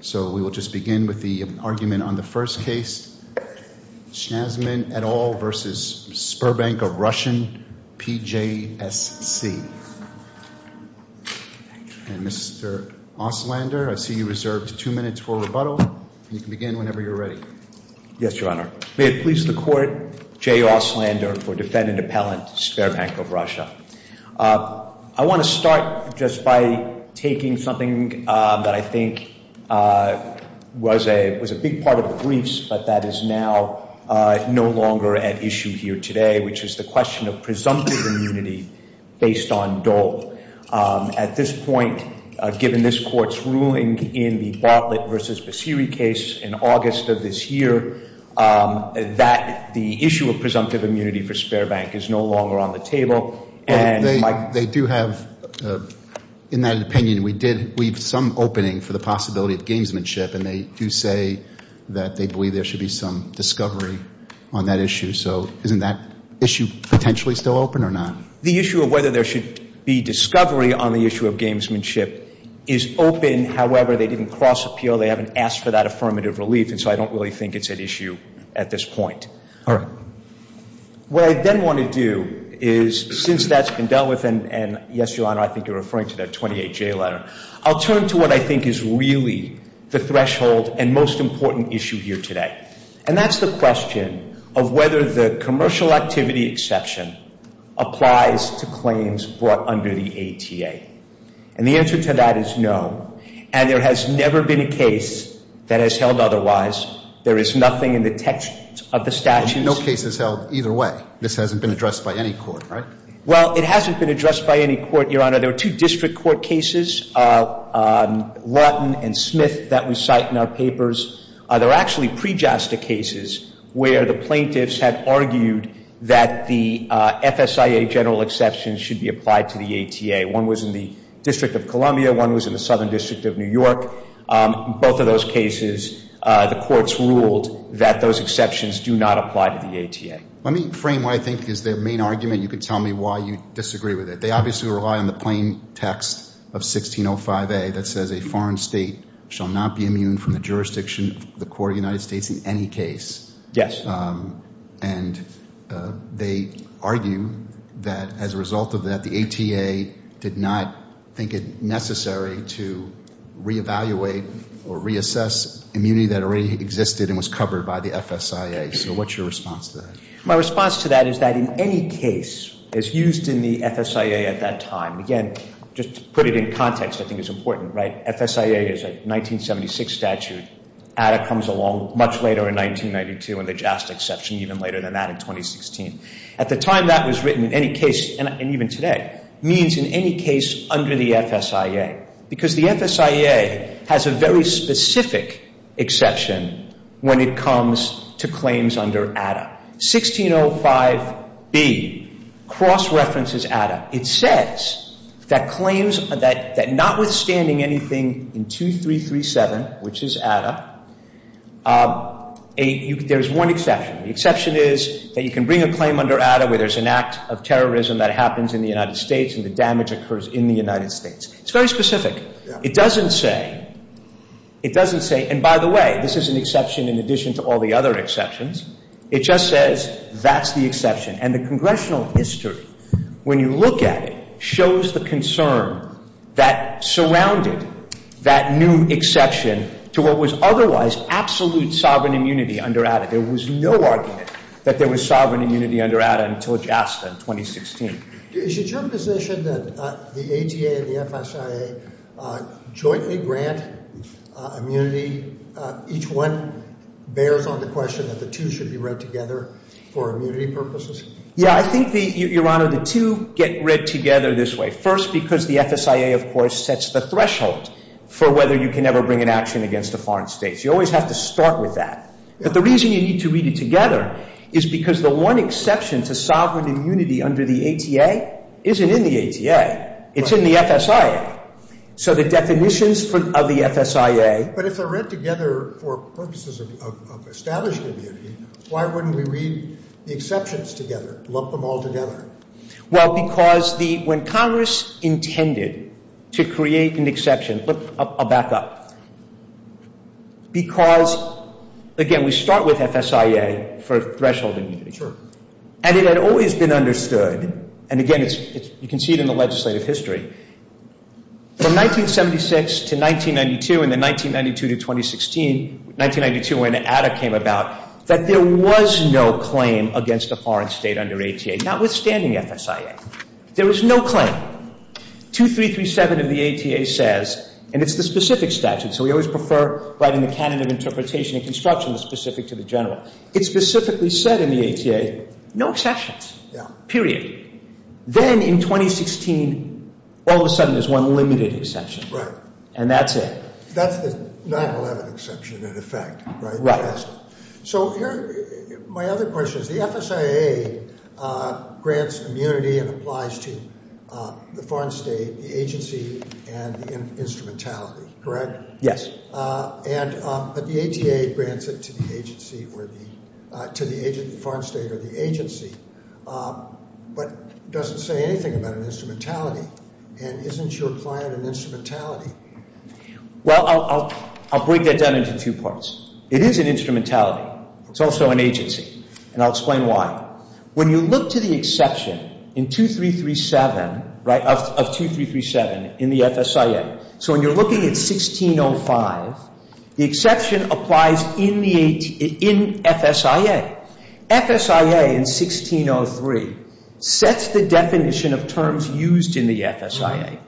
So we will just begin with the argument on the first case. Shansman et al. versus Sberbank of Russian PJSC. And Mr. Osslander, I see you reserved two minutes for rebuttal. You can begin whenever you're ready. Yes, Your Honor. May it please the court, J. Osslander for defendant appellant, Sberbank of Russia. I want to start just by taking something that I think was a big part of the briefs, but that is now no longer at issue here today, which is the question of presumptive immunity based on Dole. At this point, given this court's ruling in the Bartlett versus Basiri case in August of this year, that the issue of presumptive immunity for Sberbank is no longer on the table. They do have, in that opinion, we did leave some opening for the possibility of gamesmanship, and they do say that they believe there should be some discovery on that issue. So isn't that issue potentially still open or not? The issue of whether there should be discovery on the issue of gamesmanship is open. However, they didn't cross appeal. They haven't asked for that affirmative relief, and so I don't really think it's at issue at this point. All right. What I then want to do is, since that's been dealt with, and yes, Your Honor, I think you're referring to that 28-J letter, I'll turn to what I think is really the threshold and most important issue here today, and that's the question of whether the commercial activity exception applies to claims brought under the ATA. And the answer to that is no, and there has never been a case that has held otherwise. There is nothing in the text of the statute. And no case has held either way. This hasn't been addressed by any court, right? Well, it hasn't been addressed by any court, Your Honor. There were two district court cases, Lutton and Smith, that we cite in our papers. There were actually pre-JASTA cases where the plaintiffs had argued that the FSIA general exceptions should be applied to the ATA. One was in the District of Columbia, one was in the Southern District of New York. Both of those cases, the courts ruled that those exceptions do not apply to the ATA. Let me frame what I think is the main argument. You can tell me why you disagree with it. They obviously rely on the plain text of 1605A that says a foreign state shall not be immune from the jurisdiction of the court of the United States in any case. Yes. And they argue that as a result of that, the ATA did not think it necessary to reevaluate or reassess immunity that already existed and was covered by the FSIA. So what's your response to that? My response to that is that in any case, as used in the FSIA at that time, again, just to put it in context, I think it's important, right, FSIA is a 1976 statute. ATA comes along much later in 1992 and the JASTA exception even later than that in 2016. At the time that was written, in any case, and even today, means in any case under the FSIA because the FSIA has a very specific exception when it comes to claims under ATA. 1605B cross-references ATA. It says that claims that notwithstanding anything in 2337, which is ATA, there's one exception. The exception is that you can bring a claim under ATA where there's an act of terrorism that happens in the United States and the damage occurs in the United States. It's very specific. It doesn't say, it doesn't say, and by the way, this is an exception in addition to all the other exceptions, it just says that's the exception. And the congressional history, when you look at it, shows the concern that surrounded that new exception to what was otherwise absolute sovereign immunity under ATA. There was no argument that there was sovereign immunity under ATA until JASTA in 2016. Is it your position that the ATA and the FSIA jointly grant immunity? Each one bears on the question that the two should be read together for immunity purposes? Yeah, I think, Your Honor, the two get read together this way. First, because the FSIA, of course, sets the threshold for whether you can ever bring an action against a foreign state. You always have to start with that. But the reason you need to read it together is because the one exception to sovereign immunity under the ATA isn't in the ATA. It's in the FSIA. So the definitions of the FSIA. But if they're read together for purposes of establishing immunity, why wouldn't we read the exceptions together, lump them all together? Well, because when Congress intended to create an exception, I'll back up. Because, again, we start with FSIA for threshold immunity. Sure. And it had always been understood, and again, you can see it in the legislative history, from 1976 to 1992 and then 1992 to 2016, 1992 when ATA came about, that there was no claim against a foreign state under ATA, notwithstanding FSIA. There was no claim. 2337 of the ATA says, and it's the specific statute, so we always prefer writing the canon of interpretation and construction that's specific to the general. It specifically said in the ATA, no exceptions. Yeah. Period. Then in 2016, all of a sudden, there's one limited exception. Right. And that's it. That's the 9-11 exception, in effect, right? Right. So my other question is, the FSIA grants immunity and applies to the foreign state, the agency, and the instrumentality, correct? Yes. But the ATA grants it to the foreign state or the agency but doesn't say anything about an instrumentality, and isn't your client an instrumentality? Well, I'll break that down into two parts. It is an instrumentality. It's also an agency, and I'll explain why. When you look to the exception in 2337, right, of 2337 in the FSIA, so when you're looking at 1605, the exception applies in FSIA. FSIA in 1603 sets the definition of terms used in the FSIA,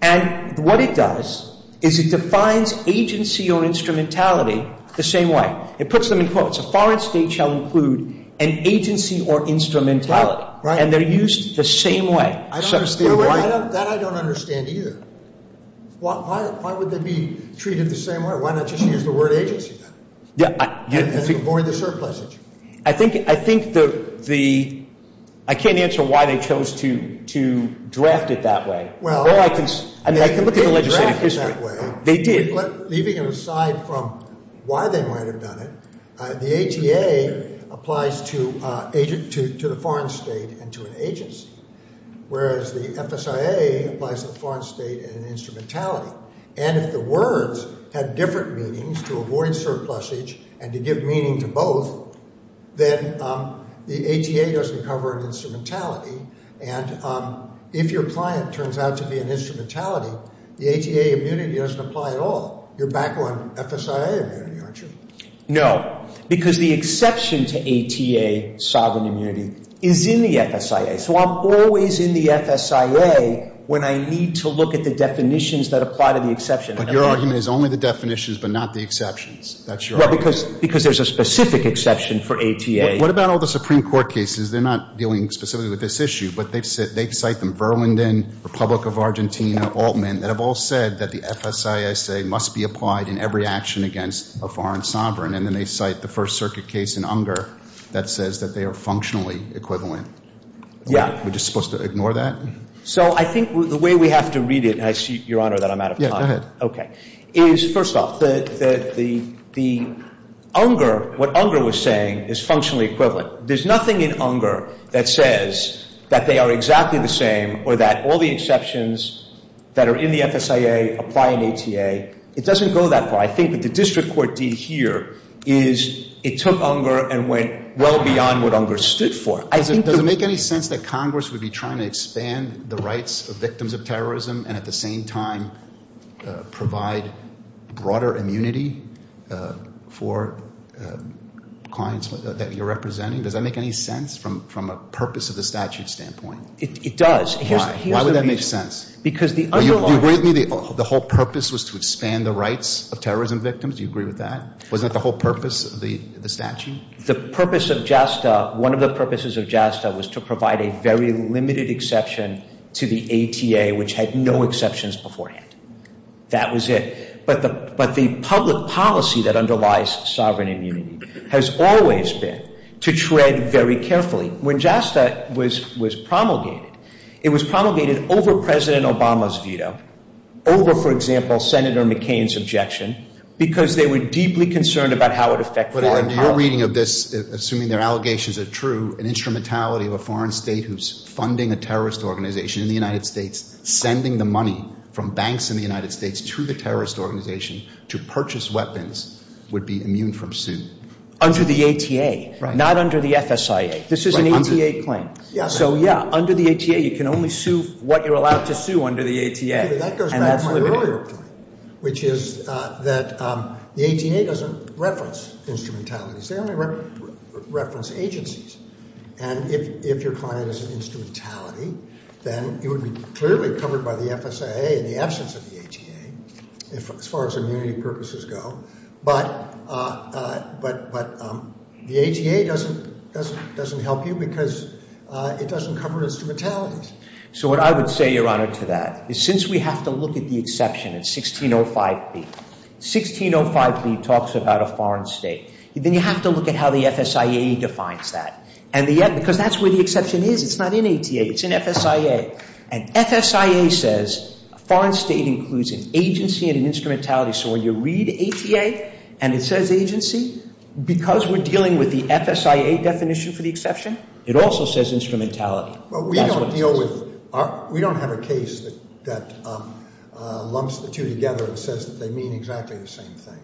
and what it does is it defines agency or instrumentality the same way. It puts them in quotes. A foreign state shall include an agency or instrumentality, and they're used the same way. I don't understand. That I don't understand either. Why would they be treated the same way? Why not just use the word agency then? Yeah. Avoid the surpluses. I think the – I can't answer why they chose to draft it that way. Well, they didn't draft it that way. They did. Leaving it aside from why they might have done it, the ATA applies to the foreign state and to an agency, whereas the FSIA applies to the foreign state and an instrumentality, and if the words had different meanings, to avoid surplusage and to give meaning to both, then the ATA doesn't cover an instrumentality, and if your client turns out to be an instrumentality, the ATA immunity doesn't apply at all. You're back on FSIA immunity, aren't you? No, because the exception to ATA sovereign immunity is in the FSIA, so I'm always in the FSIA when I need to look at the definitions that apply to the exception. But your argument is only the definitions but not the exceptions. That's your argument. Well, because there's a specific exception for ATA. What about all the Supreme Court cases? They're not dealing specifically with this issue, but they cite them, Verlinden, Republic of Argentina, Altman, that have all said that the FSIA, I say, must be applied in every action against a foreign sovereign, and then they cite the First Circuit case in Unger that says that they are functionally equivalent. Yeah. Are we just supposed to ignore that? So I think the way we have to read it, and I see, Your Honor, that I'm out of time. Yeah, go ahead. Okay. First off, what Unger was saying is functionally equivalent. There's nothing in Unger that says that they are exactly the same or that all the exceptions that are in the FSIA apply in ATA. It doesn't go that far. I think that the district court deed here is it took Unger and went well beyond what Unger stood for. Does it make any sense that Congress would be trying to expand the rights of victims of terrorism and at the same time provide broader immunity for clients that you're representing? Does that make any sense from a purpose of the statute standpoint? It does. Why? Why would that make sense? Do you agree with me the whole purpose was to expand the rights of terrorism victims? Do you agree with that? Wasn't that the whole purpose of the statute? The purpose of JASTA, one of the purposes of JASTA, was to provide a very limited exception to the ATA, which had no exceptions beforehand. That was it. But the public policy that underlies sovereign immunity has always been to tread very carefully. When JASTA was promulgated, it was promulgated over President Obama's veto, over, for example, Senator McCain's objection, assuming their allegations are true, an instrumentality of a foreign state who's funding a terrorist organization in the United States, sending the money from banks in the United States to the terrorist organization to purchase weapons, would be immune from suit. Under the ATA, not under the FSIA. This is an ATA claim. So, yeah, under the ATA, you can only sue what you're allowed to sue under the ATA. That goes back to my earlier point, which is that the ATA doesn't reference instrumentalities. They only reference agencies. And if your client is an instrumentality, then you would be clearly covered by the FSIA in the absence of the ATA, as far as immunity purposes go. But the ATA doesn't help you because it doesn't cover instrumentalities. So what I would say, Your Honor, to that is since we have to look at the exception in 1605B, 1605B talks about a foreign state. Then you have to look at how the FSIA defines that. And yet, because that's where the exception is. It's not in ATA. It's in FSIA. And FSIA says a foreign state includes an agency and an instrumentality. So when you read ATA and it says agency, because we're dealing with the FSIA definition for the exception, it also says instrumentality. Well, we don't deal with – we don't have a case that lumps the two together and says that they mean exactly the same thing.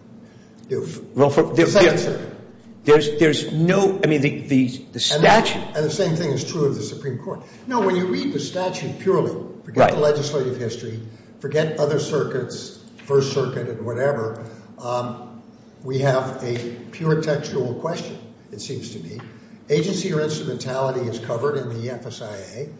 Well, there's no – I mean, the statute. And the same thing is true of the Supreme Court. No, when you read the statute purely, forget the legislative history, forget other circuits, First Circuit and whatever, we have a pure textual question, it seems to me. Agency or instrumentality is covered in the FSIA.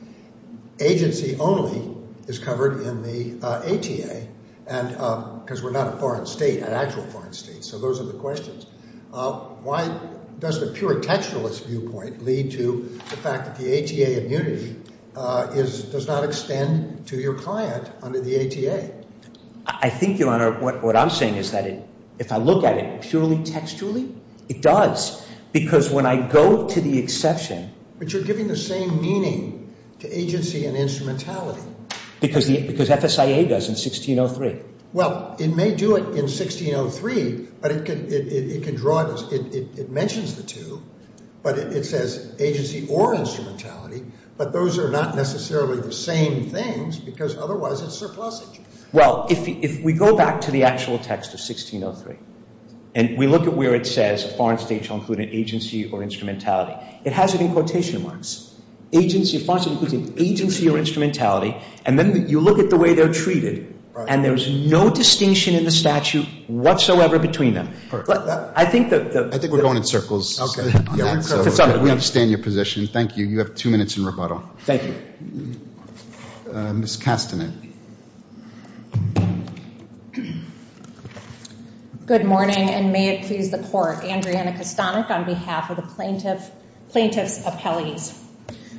Agency only is covered in the ATA because we're not a foreign state, an actual foreign state. So those are the questions. Why does the pure textualist viewpoint lead to the fact that the ATA immunity does not extend to your client under the ATA? I think, Your Honor, what I'm saying is that if I look at it purely textually, it does. Because when I go to the exception – But you're giving the same meaning to agency and instrumentality. Because FSIA does in 1603. Well, it may do it in 1603, but it can draw – it mentions the two, but it says agency or instrumentality, but those are not necessarily the same things because otherwise it's surplusage. Well, if we go back to the actual text of 1603 and we look at where it says a foreign state shall include an agency or instrumentality, it has it in quotation marks. Agency – a foreign state includes an agency or instrumentality, and then you look at the way they're treated, and there's no distinction in the statute whatsoever between them. I think the – I think we're going in circles on that, so we understand your position. Thank you. You have two minutes in rebuttal. Thank you. Ms. Castanet. Good morning, and may it please the Court. Andriana Castanet on behalf of the plaintiff's appellees.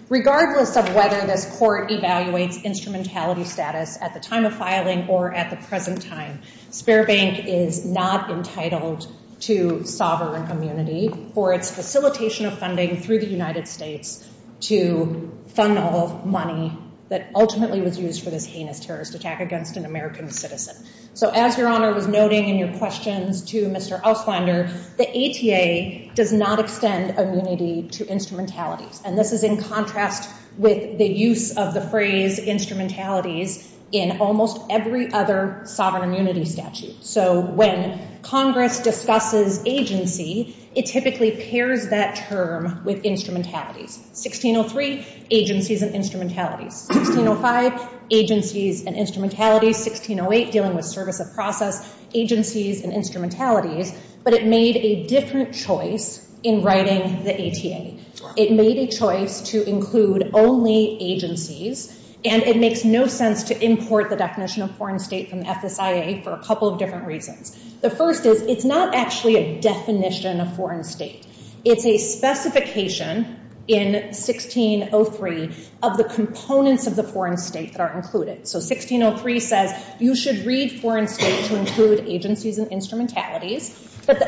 Regardless of whether this Court evaluates instrumentality status at the time of filing or at the present time, Spare Bank is not entitled to sovereign immunity for its facilitation of funding through the United States to fund all money that ultimately was used for this heinous terrorist attack against an American citizen. So as Your Honor was noting in your questions to Mr. Auslander, the ATA does not extend immunity to instrumentalities, and this is in contrast with the use of the phrase instrumentalities in almost every other sovereign immunity statute. So when Congress discusses agency, it typically pairs that term with instrumentalities. 1603, agencies and instrumentalities. 1605, agencies and instrumentalities. 1608, dealing with service of process, agencies and instrumentalities. But it made a different choice in writing the ATA. It made a choice to include only agencies, and it makes no sense to import the definition of foreign state from the FSIA for a couple of different reasons. The first is it's not actually a definition of foreign state. It's a specification in 1603 of the components of the foreign state that are included. So 1603 says you should read foreign state to include agencies and instrumentalities, but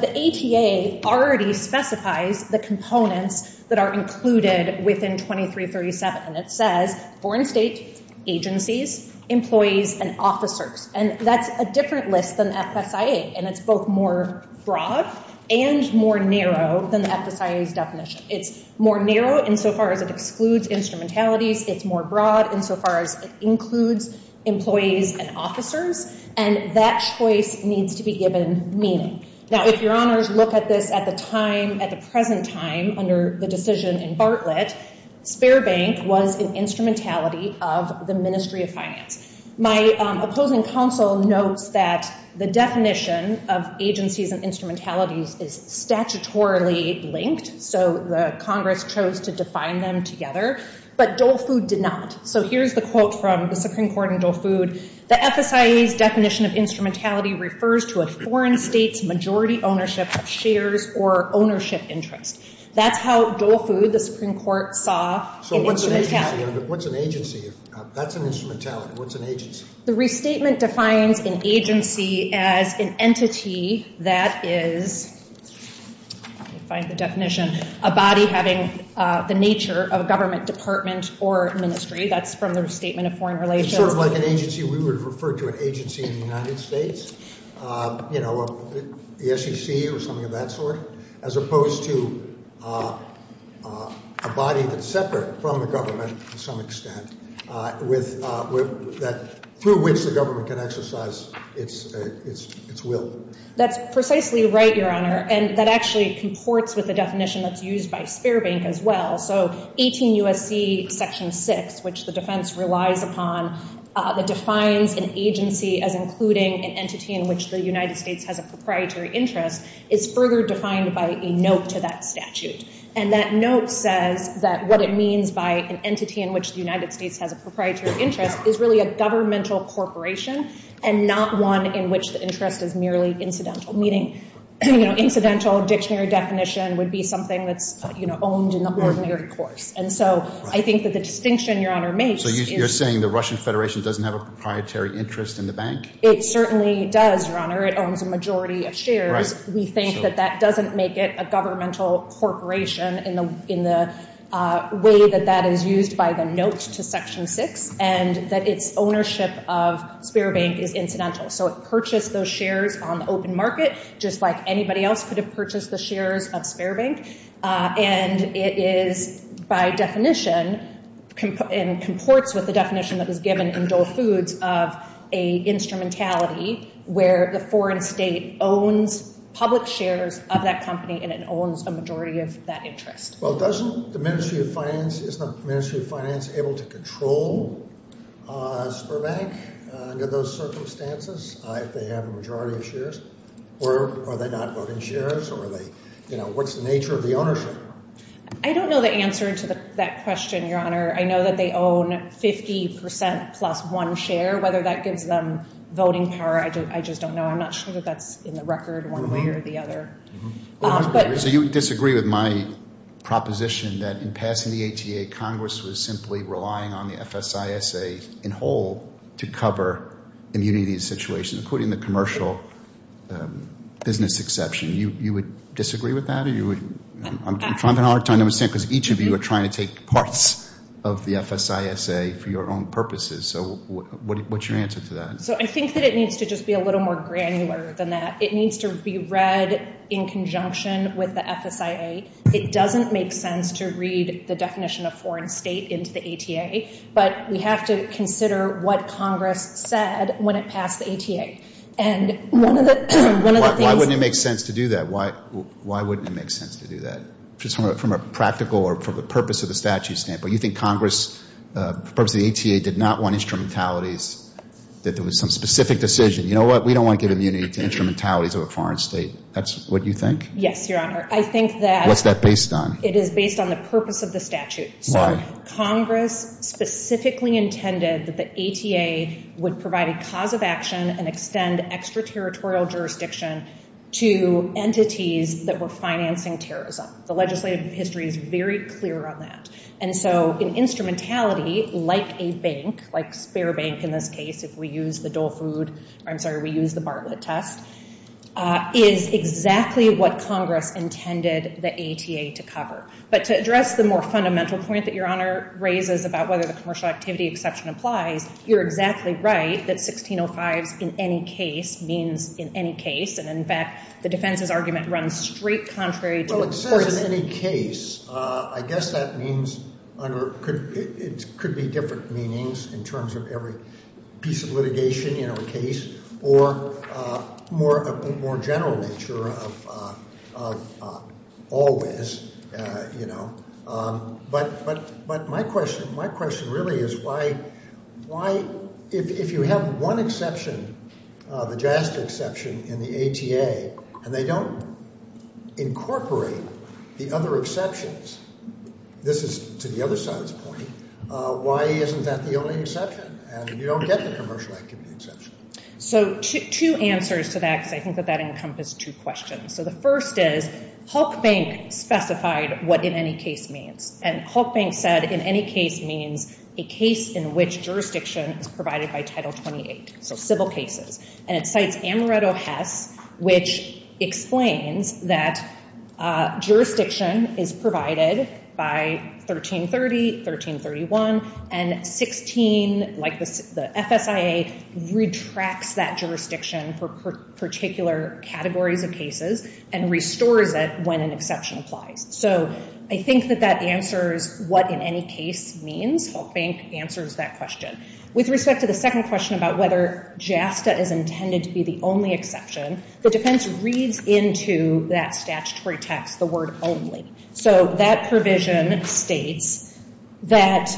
the ATA already specifies the components that are included within 2337, and it says foreign state, agencies, employees, and officers, and that's a different list than FSIA, and it's both more broad and more narrow than the FSIA's definition. It's more narrow insofar as it excludes instrumentalities. It's more broad insofar as it includes employees and officers, and that choice needs to be given meaning. Now, if your honors look at this at the time, at the present time, under the decision in Bartlett, spare bank was an instrumentality of the Ministry of Finance. My opposing counsel notes that the definition of agencies and instrumentalities is statutorily linked, so the Congress chose to define them together, but Dole Food did not. So here's the quote from the Supreme Court in Dole Food. The FSIA's definition of instrumentality refers to a foreign state's majority ownership of shares or ownership interest. That's how Dole Food, the Supreme Court, saw an instrumentality. So what's an agency? That's an instrumentality. What's an agency? The restatement defines an agency as an entity that is, let me find the definition, a body having the nature of a government department or ministry. That's from the restatement of foreign relations. It's sort of like an agency we would refer to an agency in the United States, you know, the SEC or something of that sort, as opposed to a body that's separate from the government to some extent through which the government can exercise its will. That's precisely right, Your Honor, and that actually comports with the definition that's used by spare bank as well. So 18 U.S.C. Section 6, which the defense relies upon, that defines an agency as including an entity in which the United States has a proprietary interest, is further defined by a note to that statute. And that note says that what it means by an entity in which the United States has a proprietary interest is really a governmental corporation and not one in which the interest is merely incidental, meaning, you know, incidental dictionary definition would be something that's, you know, owned in the ordinary course. And so I think that the distinction, Your Honor, makes is- So you're saying the Russian Federation doesn't have a proprietary interest in the bank? It certainly does, Your Honor. It owns a majority of shares. We think that that doesn't make it a governmental corporation in the way that that is used by the note to Section 6 and that its ownership of spare bank is incidental. So it purchased those shares on the open market just like anybody else could have purchased the shares of spare bank. And it is, by definition, and comports with the definition that is given in Dole Foods of a instrumentality where the foreign state owns public shares of that company and it owns a majority of that interest. Well, doesn't the Ministry of Finance-is the Ministry of Finance able to control a spare bank under those circumstances if they have a majority of shares? Or are they not voting shares? Or are they-you know, what's the nature of the ownership? I don't know the answer to that question, Your Honor. I know that they own 50 percent plus one share. Whether that gives them voting power, I just don't know. I'm not sure that that's in the record one way or the other. So you disagree with my proposition that in passing the ATA, Congress was simply relying on the FSISA in whole to cover immunity situations, including the commercial business exception. You would disagree with that? I'm having a hard time to understand because each of you are trying to take parts of the FSISA for your own purposes. So what's your answer to that? So I think that it needs to just be a little more granular than that. It needs to be read in conjunction with the FSISA. It doesn't make sense to read the definition of foreign state into the ATA, but we have to consider what Congress said when it passed the ATA. And one of the things- Why wouldn't it make sense to do that? Why wouldn't it make sense to do that? Just from a practical or from the purpose of the statute standpoint. You think Congress, for the purpose of the ATA, did not want instrumentalities, that there was some specific decision. You know what? We don't want to give immunity to instrumentalities of a foreign state. That's what you think? Yes, Your Honor. I think that- What's that based on? It is based on the purpose of the statute. Why? So Congress specifically intended that the ATA would provide a cause of action and extend extraterritorial jurisdiction to entities that were financing terrorism. The legislative history is very clear on that. And so an instrumentality like a bank, like spare bank in this case, if we use the Dole Food-I'm sorry, we use the Bartlett test, is exactly what Congress intended the ATA to cover. But to address the more fundamental point that Your Honor raises about whether the commercial activity exception applies, you're exactly right that 1605s in any case means in any case. And, in fact, the defense's argument runs straight contrary to- In any case, I guess that means under- It could be different meanings in terms of every piece of litigation in every case or more general nature of always, you know. But my question really is why, if you have one exception, the JASTA exception in the ATA, and they don't incorporate the other exceptions, this is to the other side's point, why isn't that the only exception? And you don't get the commercial activity exception. So two answers to that because I think that that encompasses two questions. So the first is, Hulk Bank specified what in any case means. And Hulk Bank said in any case means a case in which jurisdiction is provided by Title 28, so civil cases. And it cites Amaretto Hess, which explains that jurisdiction is provided by 1330, 1331, and 16, like the FSIA, retracts that jurisdiction for particular categories of cases and restores it when an exception applies. So I think that that answers what in any case means. Hulk Bank answers that question. With respect to the second question about whether JASTA is intended to be the only exception, the defense reads into that statutory text the word only. So that provision states that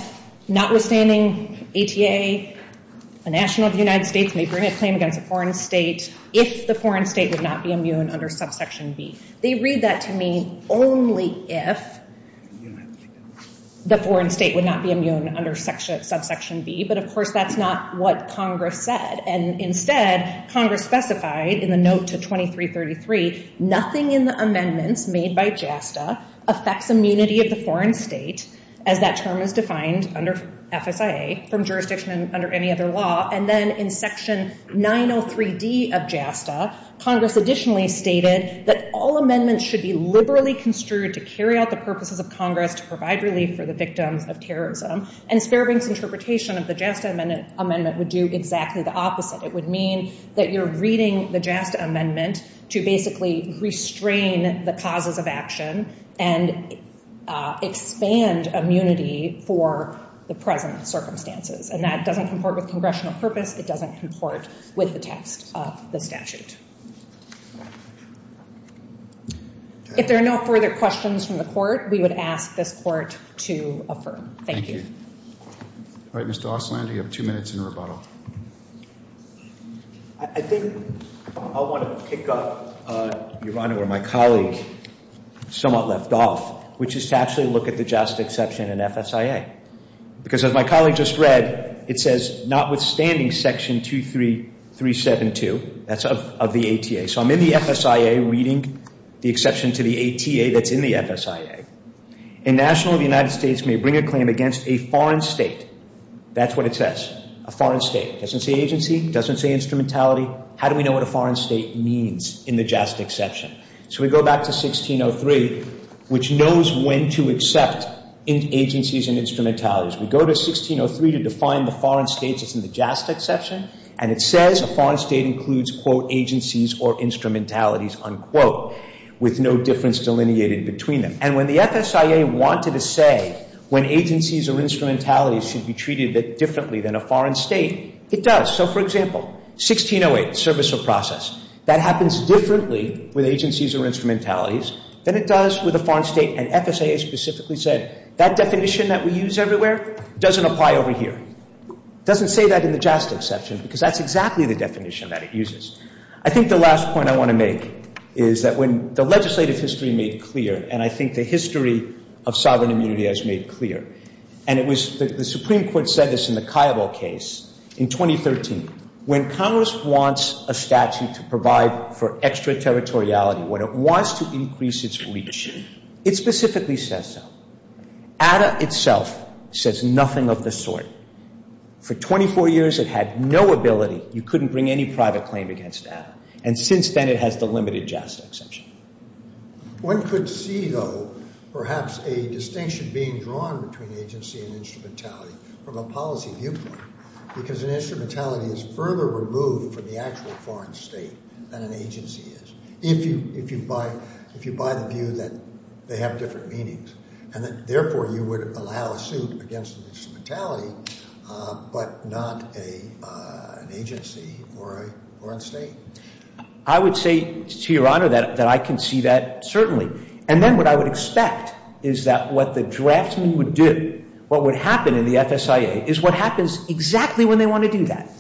notwithstanding ATA, a national of the United States, may bring a claim against a foreign state if the foreign state would not be immune under subsection B. They read that to mean only if the foreign state would not be immune under subsection B, but of course that's not what Congress said. And instead, Congress specified in the note to 2333, nothing in the amendments made by JASTA affects immunity of the foreign state, as that term is defined under FSIA from jurisdiction under any other law. And then in section 903D of JASTA, Congress additionally stated that all amendments should be liberally construed to carry out the purposes of Congress to provide relief for the victims of terrorism. And Sparabank's interpretation of the JASTA amendment would do exactly the opposite. It would mean that you're reading the JASTA amendment to basically restrain the causes of action and expand immunity for the present circumstances. And that doesn't comport with congressional purpose. It doesn't comport with the text of the statute. If there are no further questions from the court, we would ask this court to affirm. Thank you. All right, Mr. Ostlander, you have two minutes in rebuttal. I think I want to pick up, Your Honor, where my colleague somewhat left off, which is to actually look at the JASTA exception in FSIA. Because as my colleague just read, it says, notwithstanding section 23372, that's of the ATA. So I'm in the FSIA reading the exception to the ATA that's in the FSIA. A national of the United States may bring a claim against a foreign state. That's what it says, a foreign state. It doesn't say agency. It doesn't say instrumentality. How do we know what a foreign state means in the JASTA exception? So we go back to 1603, which knows when to accept agencies and instrumentalities. We go to 1603 to define the foreign states that's in the JASTA exception, and it says a foreign state includes, quote, agencies or instrumentalities, unquote, with no difference delineated between them. And when the FSIA wanted to say when agencies or instrumentalities should be treated differently than a foreign state, it does. So, for example, 1608, service or process. That happens differently with agencies or instrumentalities than it does with a foreign state. And FSIA specifically said that definition that we use everywhere doesn't apply over here. It doesn't say that in the JASTA exception because that's exactly the definition that it uses. I think the last point I want to make is that when the legislative history made clear, and I think the history of sovereign immunity has made clear, and it was the Supreme Court said this in the Cairo case in 2013, when Congress wants a statute to provide for extraterritoriality, when it wants to increase its reach, it specifically says so. ADA itself says nothing of the sort. For 24 years it had no ability. You couldn't bring any private claim against ADA. And since then it has the limited JASTA exception. One could see, though, perhaps a distinction being drawn between agency and instrumentality from a policy viewpoint because an instrumentality is further removed from the actual foreign state than an agency is. If you buy the view that they have different meanings and that, therefore, you would allow a suit against an instrumentality but not an agency or a foreign state. I would say to Your Honor that I can see that certainly. And then what I would expect is that what the drafting would do, what would happen in the FSIA is what happens exactly when they want to do that.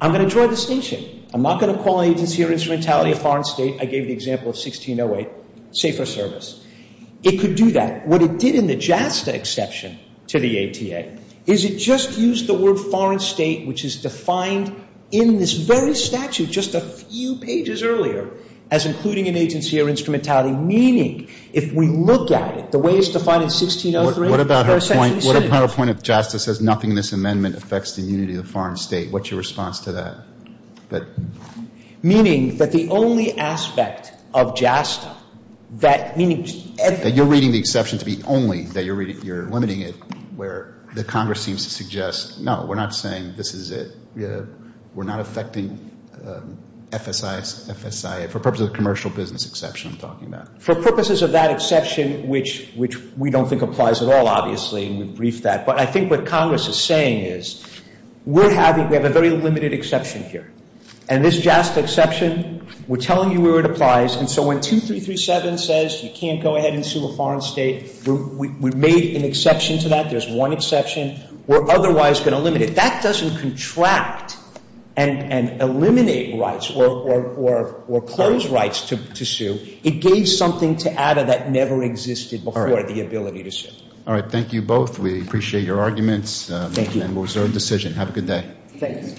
I'm going to draw a distinction. I'm not going to call an agency or instrumentality a foreign state. I gave the example of 1608, safer service. It could do that. What it did in the JASTA exception to the ATA is it just used the word foreign state, which is defined in this very statute just a few pages earlier as including an agency or instrumentality, meaning if we look at it, the way it's defined in 1603. What about her point? What about her point if JASTA says nothing in this amendment affects the unity of the foreign state? What's your response to that? Meaning that the only aspect of JASTA that means everything. That you're reading the exception to be only that you're limiting it where the Congress seems to suggest, no, we're not saying this is it. We're not affecting FSIA for purposes of commercial business exception I'm talking about. For purposes of that exception, which we don't think applies at all, obviously, and we've briefed that. But I think what Congress is saying is we have a very limited exception here. And this JASTA exception, we're telling you where it applies. And so when 2337 says you can't go ahead and sue a foreign state, we made an exception to that. There's one exception. We're otherwise going to limit it. That doesn't contract and eliminate rights or close rights to sue. It gave something to ATA that never existed before, the ability to sue. All right. Thank you both. We appreciate your arguments. Thank you. And we'll reserve decision. Have a good day. Thank you.